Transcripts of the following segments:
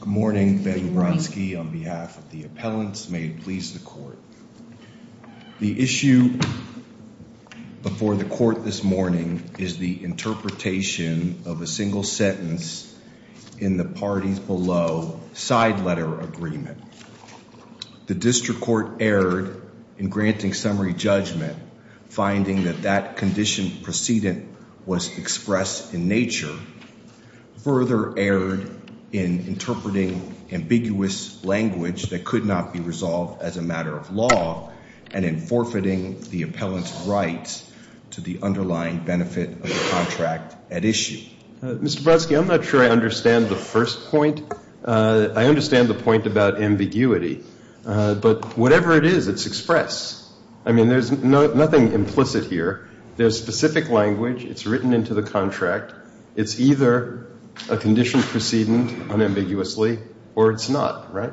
Good morning. Betty Brodsky on behalf of the appellants. May it please the court. The issue before the court this morning is the interpretation of a single sentence in the parties below side letter agreement. The district court erred in granting summary judgment finding that that condition precedent was expressed in nature, further erred in interpreting ambiguous language that could not be resolved as a matter of law, and in forfeiting the appellant's rights to the underlying benefit of the contract at issue. Mr. Brodsky, I'm not sure I understand the first point. I understand the point about ambiguity, but whatever it is, it's expressed. I mean there's nothing implicit here. There's no specific language. It's written into the contract. It's either a condition precedent unambiguously or it's not, right?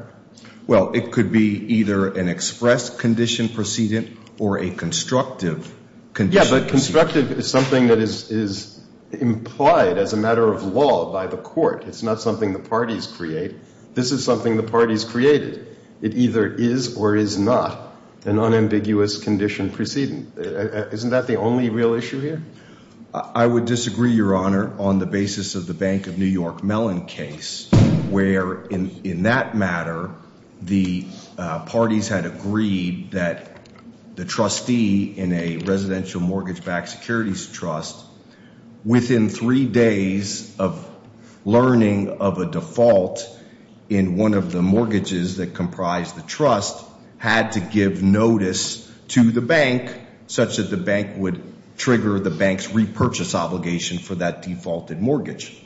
Well, it could be either an expressed condition precedent or a constructive condition precedent. Yeah, but constructive is something that is implied as a matter of law by the court. It's not something the parties create. This is something the parties created. It either is or is not an unambiguous condition precedent. Isn't that the only real issue here? I would disagree, Your Honor, on the basis of the Bank of New York Mellon case, where in that matter the parties had agreed that the trustee in a residential mortgage backed securities trust, within three days of learning of a default in one of the mortgages that comprised the trust, had to give notice to the bank such that the bank would trigger the bank's repurchase obligation for that defaulted mortgage.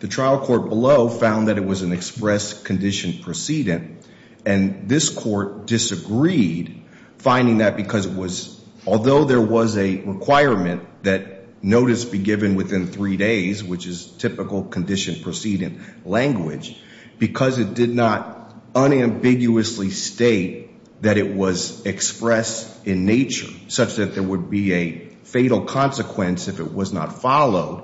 The trial court below found that it was an expressed condition precedent, and this court disagreed, finding that because it was, although there was a requirement that notice be given within three days, which is not unambiguously state that it was expressed in nature, such that there would be a fatal consequence if it was not followed,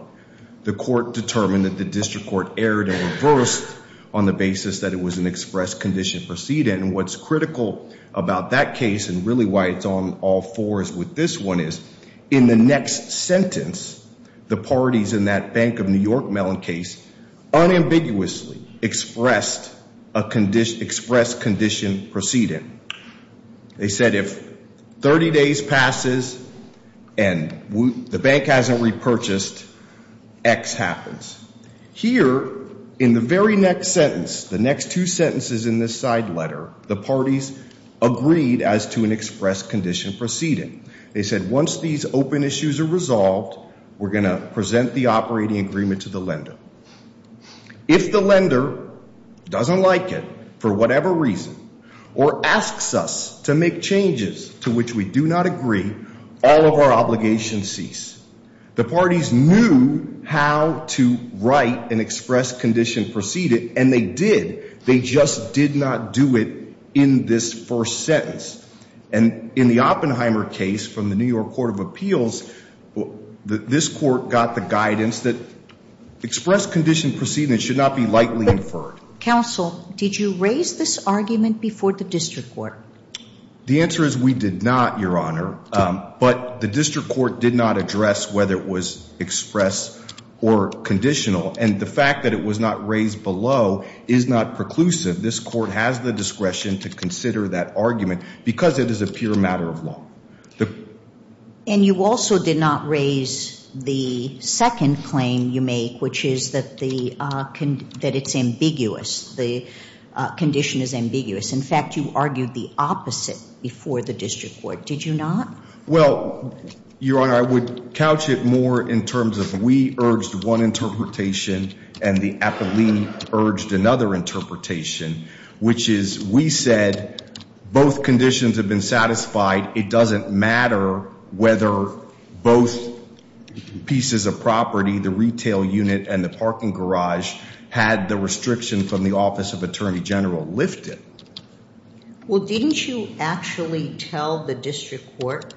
the court determined that the district court erred and reversed on the basis that it was an expressed condition precedent, and what's critical about that case and really why it's on all fours with this one is, in the next sentence, the parties in that Bank of New York Mellon case agreed that it was an expressed condition precedent. They said if 30 days passes and the bank hasn't repurchased, X happens. Here, in the very next sentence, the next two sentences in this side letter, the parties agreed as to an expressed condition precedent. They said once these open issues are resolved, we're going to reason, or asks us to make changes to which we do not agree, all of our obligations cease. The parties knew how to write an expressed condition precedent, and they did. They just did not do it in this first sentence, and in the Oppenheimer case from the New York Court of Appeals, this court got the guidance that did you raise this argument before the district court? The answer is we did not, Your Honor, but the district court did not address whether it was expressed or conditional, and the fact that it was not raised below is not preclusive. This court has the discretion to consider that argument because it is a pure matter of law. And you also did not raise the second claim you make, which is that it's ambiguous. The condition is ambiguous. In fact, you argued the opposite before the district court. Did you not? Well, Your Honor, I would couch it more in terms of we urged one interpretation and the appellee urged another interpretation, which is we said both conditions have been satisfied. It doesn't matter whether both pieces of the garage had the restriction from the Office of Attorney General lifted. Well, didn't you actually tell the district court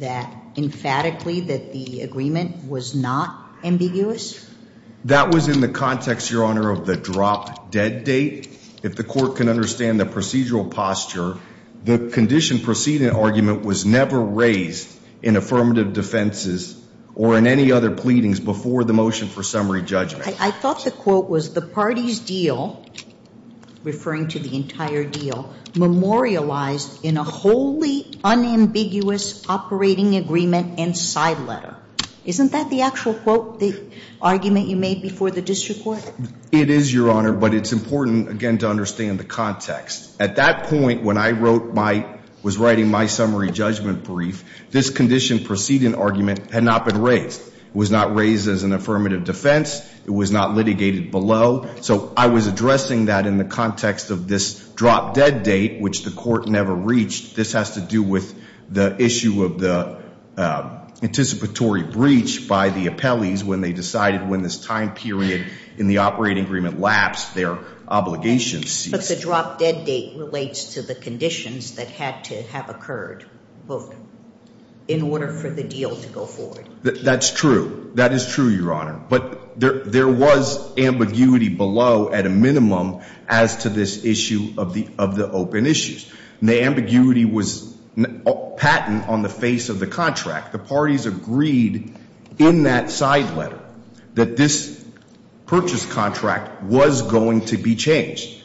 that emphatically that the agreement was not ambiguous? That was in the context, Your Honor, of the drop-dead date. If the court can understand the procedural posture, the condition precedent argument was never raised in affirmative defenses or in any other pleadings before the motion for the case. I thought the quote was the party's deal, referring to the entire deal, memorialized in a wholly unambiguous operating agreement and side letter. Isn't that the actual quote, the argument you made before the district court? It is, Your Honor, but it's important, again, to understand the context. At that point when I wrote my, was writing my summary judgment brief, this condition precedent argument had not been raised. It was not raised as an affirmative defense. It was not litigated below. So I was addressing that in the context of this drop-dead date, which the court never reached. This has to do with the issue of the anticipatory breach by the appellees when they decided when this time period in the operating agreement lapsed, their obligations ceased. But the drop-dead date relates to the conditions that had to have That's true. That is true, Your Honor. But there was ambiguity below at a minimum as to this issue of the open issues. The ambiguity was patent on the face of the contract. The parties agreed in that side letter that this purchase contract was going to be changed.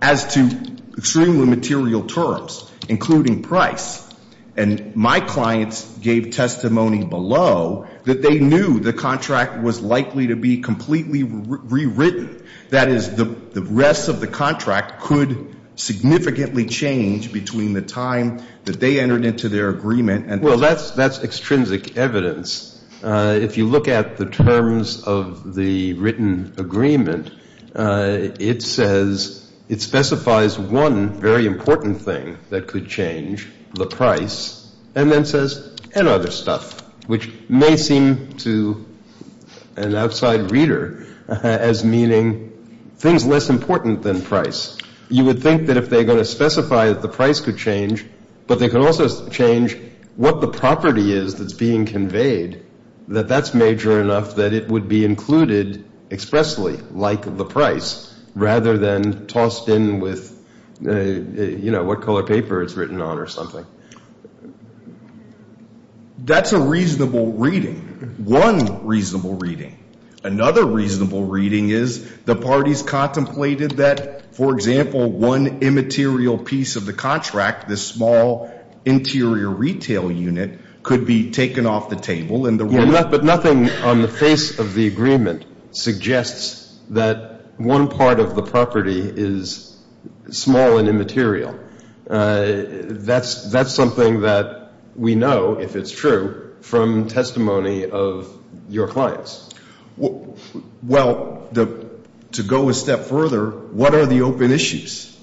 As to extremely material terms, including price, and my clients gave testimony below that they knew the contract was likely to be completely rewritten. That is, the rest of the contract could significantly change between the time that they entered into their agreement and Well, that's extrinsic evidence. If you look at the terms of the written agreement, it says, it specifies one very and then says, and other stuff, which may seem to an outside reader as meaning things less important than price. You would think that if they're going to specify that the price could change, but they could also change what the property is that's being conveyed, that that's major enough that it would be included expressly, like the price, rather than tossed in with, you know, what color paper it's written on or something. That's a reasonable reading. One reasonable reading. Another reasonable reading is the parties contemplated that, for example, one immaterial piece of the contract, this small interior retail unit, could be taken off the table. But nothing on the face of the agreement suggests that one part of the property is small and immaterial. That's something that we know, if it's true, from testimony of your clients. Well, to go a step further, what are the open issues?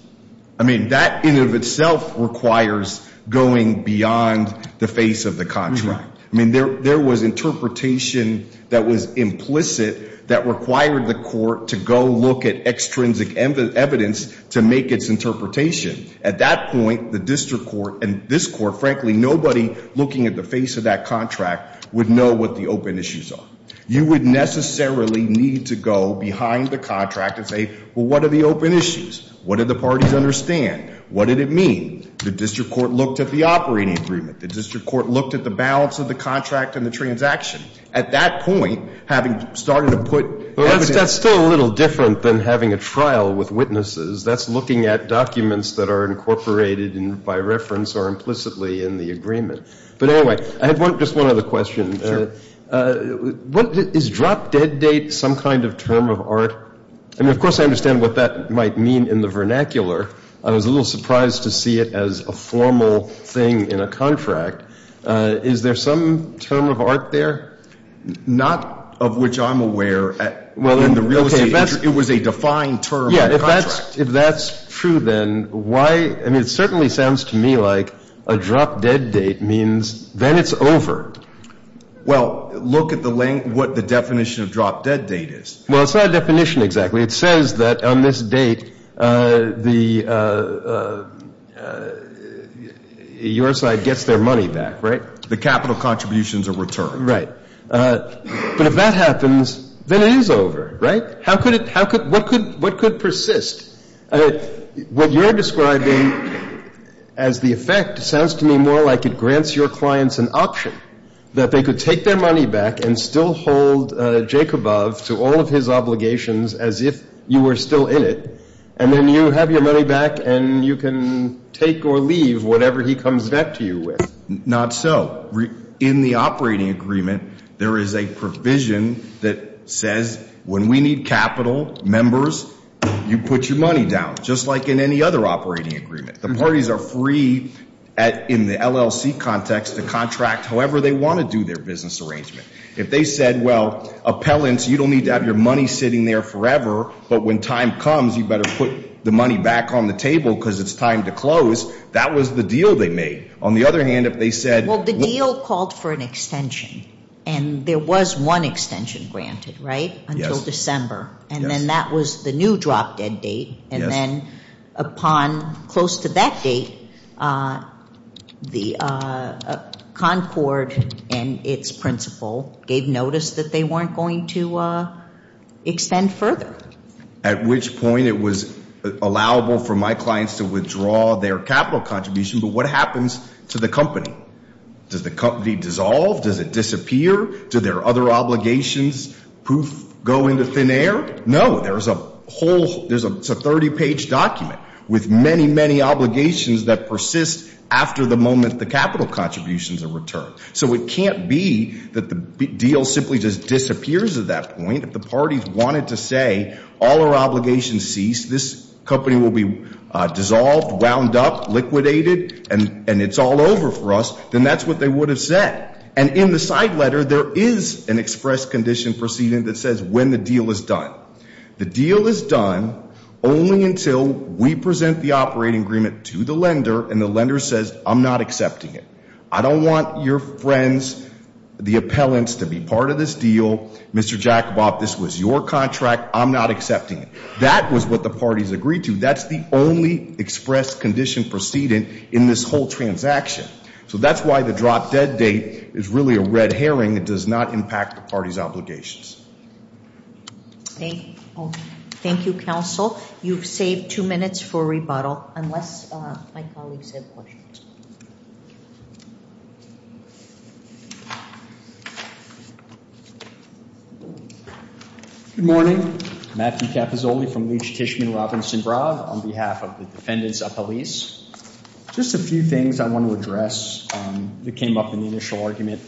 I mean, that in and of itself requires going beyond the face of the contract. I mean, there was interpretation that was implicit that required the court to go look at extrinsic evidence to make its interpretation. At that point, the district court and this court, frankly, nobody looking at the face of that contract would know what the open issues are. You would necessarily need to go behind the contract and say, well, what are the open issues? What did the parties understand? What did it mean? The district court looked at the operating agreement. The district court looked at the balance of the contract and the transaction. At that point, having started to put evidence in. But that's still a little different than having a trial with witnesses. That's looking at documents that are incorporated by reference or implicitly in the agreement. But anyway, I have just one other question. Sure. Is drop dead date some kind of term of art? I mean, of course I understand what that might mean in the vernacular. I was a little surprised to see it as a formal thing in a contract. Is there some term of art there? Not of which I'm aware. Well, in the real estate, it was a defined term. Yeah. If that's true, then why? I mean, it certainly sounds to me like a drop dead date means then it's over. Well, look at the length, what the definition of drop dead date is. Well, it's not a definition exactly. It says that on this date, your side gets their money back, right? The capital contributions are returned. Right. But if that happens, then it is over, right? What could persist? What you're describing as the effect sounds to me more like it grants your clients an option, that they could take their money back and still hold Jacobov to all of his obligations as if you were still in it, and then you have your money back and you can take or leave whatever he comes back to you with. Not so. In the operating agreement, there is a provision that says when we need capital, members, you put your money down, just like in any other operating agreement. The parties are free in the LLC context to contract however they want to do their business arrangement. If they said, well, appellants, you don't need to have your money sitting there forever, but when time comes you better put the money back on the table because it's time to close, that was the deal they made. On the other hand, if they said. Well, the deal called for an extension, and there was one extension granted, right, until December. Yes. And then that was the new drop dead date. Yes. And then upon close to that date, the Concord and its principal gave notice that they weren't going to extend further. At which point it was allowable for my clients to withdraw their capital contribution, but what happens to the company? Does the company dissolve? Does it disappear? Do their other obligations, poof, go into thin air? No. There's a 30-page document with many, many obligations that persist after the moment the capital contributions are returned. So it can't be that the deal simply just disappears at that point. If the parties wanted to say all our obligations cease, this company will be dissolved, wound up, liquidated, and it's all over for us, then that's what they would have said. And in the side letter, there is an express condition proceeding that says when the deal is done. The deal is done only until we present the operating agreement to the lender and the lender says, I'm not accepting it. I don't want your friends, the appellants, to be part of this deal. Mr. Jacoboff, this was your contract. I'm not accepting it. That was what the parties agreed to. That's the only express condition proceeding in this whole transaction. So that's why the drop-dead date is really a red herring. It does not impact the parties' obligations. Thank you, counsel. You've saved two minutes for rebuttal unless my colleagues have questions. Good morning. Matthew Cappizzoli from Leach-Tishman-Robinson-Brav on behalf of the defendants appellees. Just a few things I want to address that came up in the initial argument.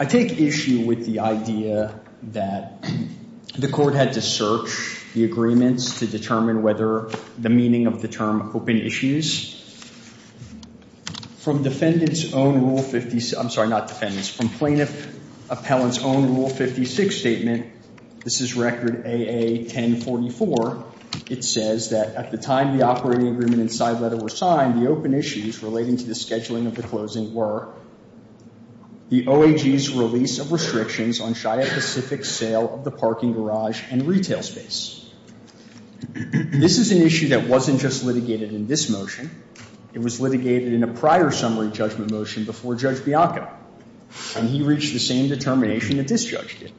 I take issue with the idea that the court had to search the agreements to determine whether the meaning of the term open issues. From defendant's own Rule 56—I'm sorry, not defendant's. From plaintiff appellant's own Rule 56 statement, this is Record AA-1044. It says that at the time the operating agreement and side letter were signed, the open issues relating to the scheduling of the closing were the OAG's release of restrictions on Shia Pacific's sale of the parking garage and retail space. This is an issue that wasn't just litigated in this motion. It was litigated in a prior summary judgment motion before Judge Bianco, and he reached the same determination that this judge did.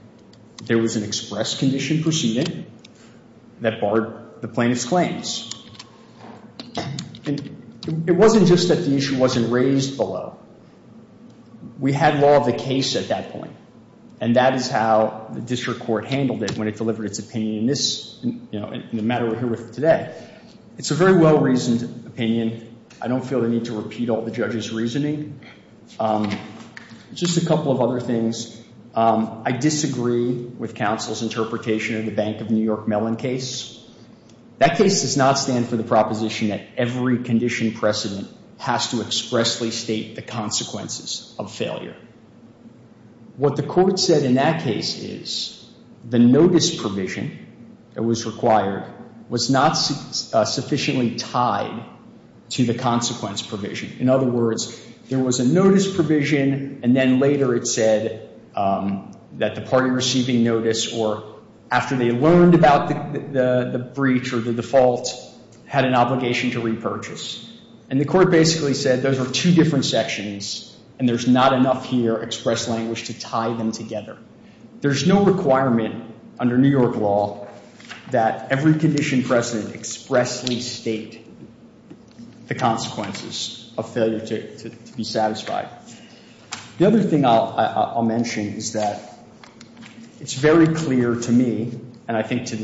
There was an express condition pursued that barred the plaintiff's claims. It wasn't just that the issue wasn't raised below. We had law of the case at that point, and that is how the district court handled it when it delivered its opinion in the matter we're here with today. It's a very well-reasoned opinion. I don't feel the need to repeat all the judge's reasoning. Just a couple of other things. I disagree with counsel's interpretation of the Bank of New York Mellon case. That case does not stand for the proposition that every condition precedent has to expressly state the consequences of failure. What the court said in that case is the notice provision that was required was not sufficiently tied to the consequence provision. In other words, there was a notice provision, and then later it said that the party receiving notice, or after they learned about the breach or the default, had an obligation to repurchase. And the court basically said those are two different sections, and there's not enough here express language to tie them together. There's no requirement under New York law that every condition precedent expressly state the consequences of failure to be satisfied. The other thing I'll mention is that it's very clear to me, and I think to the district court,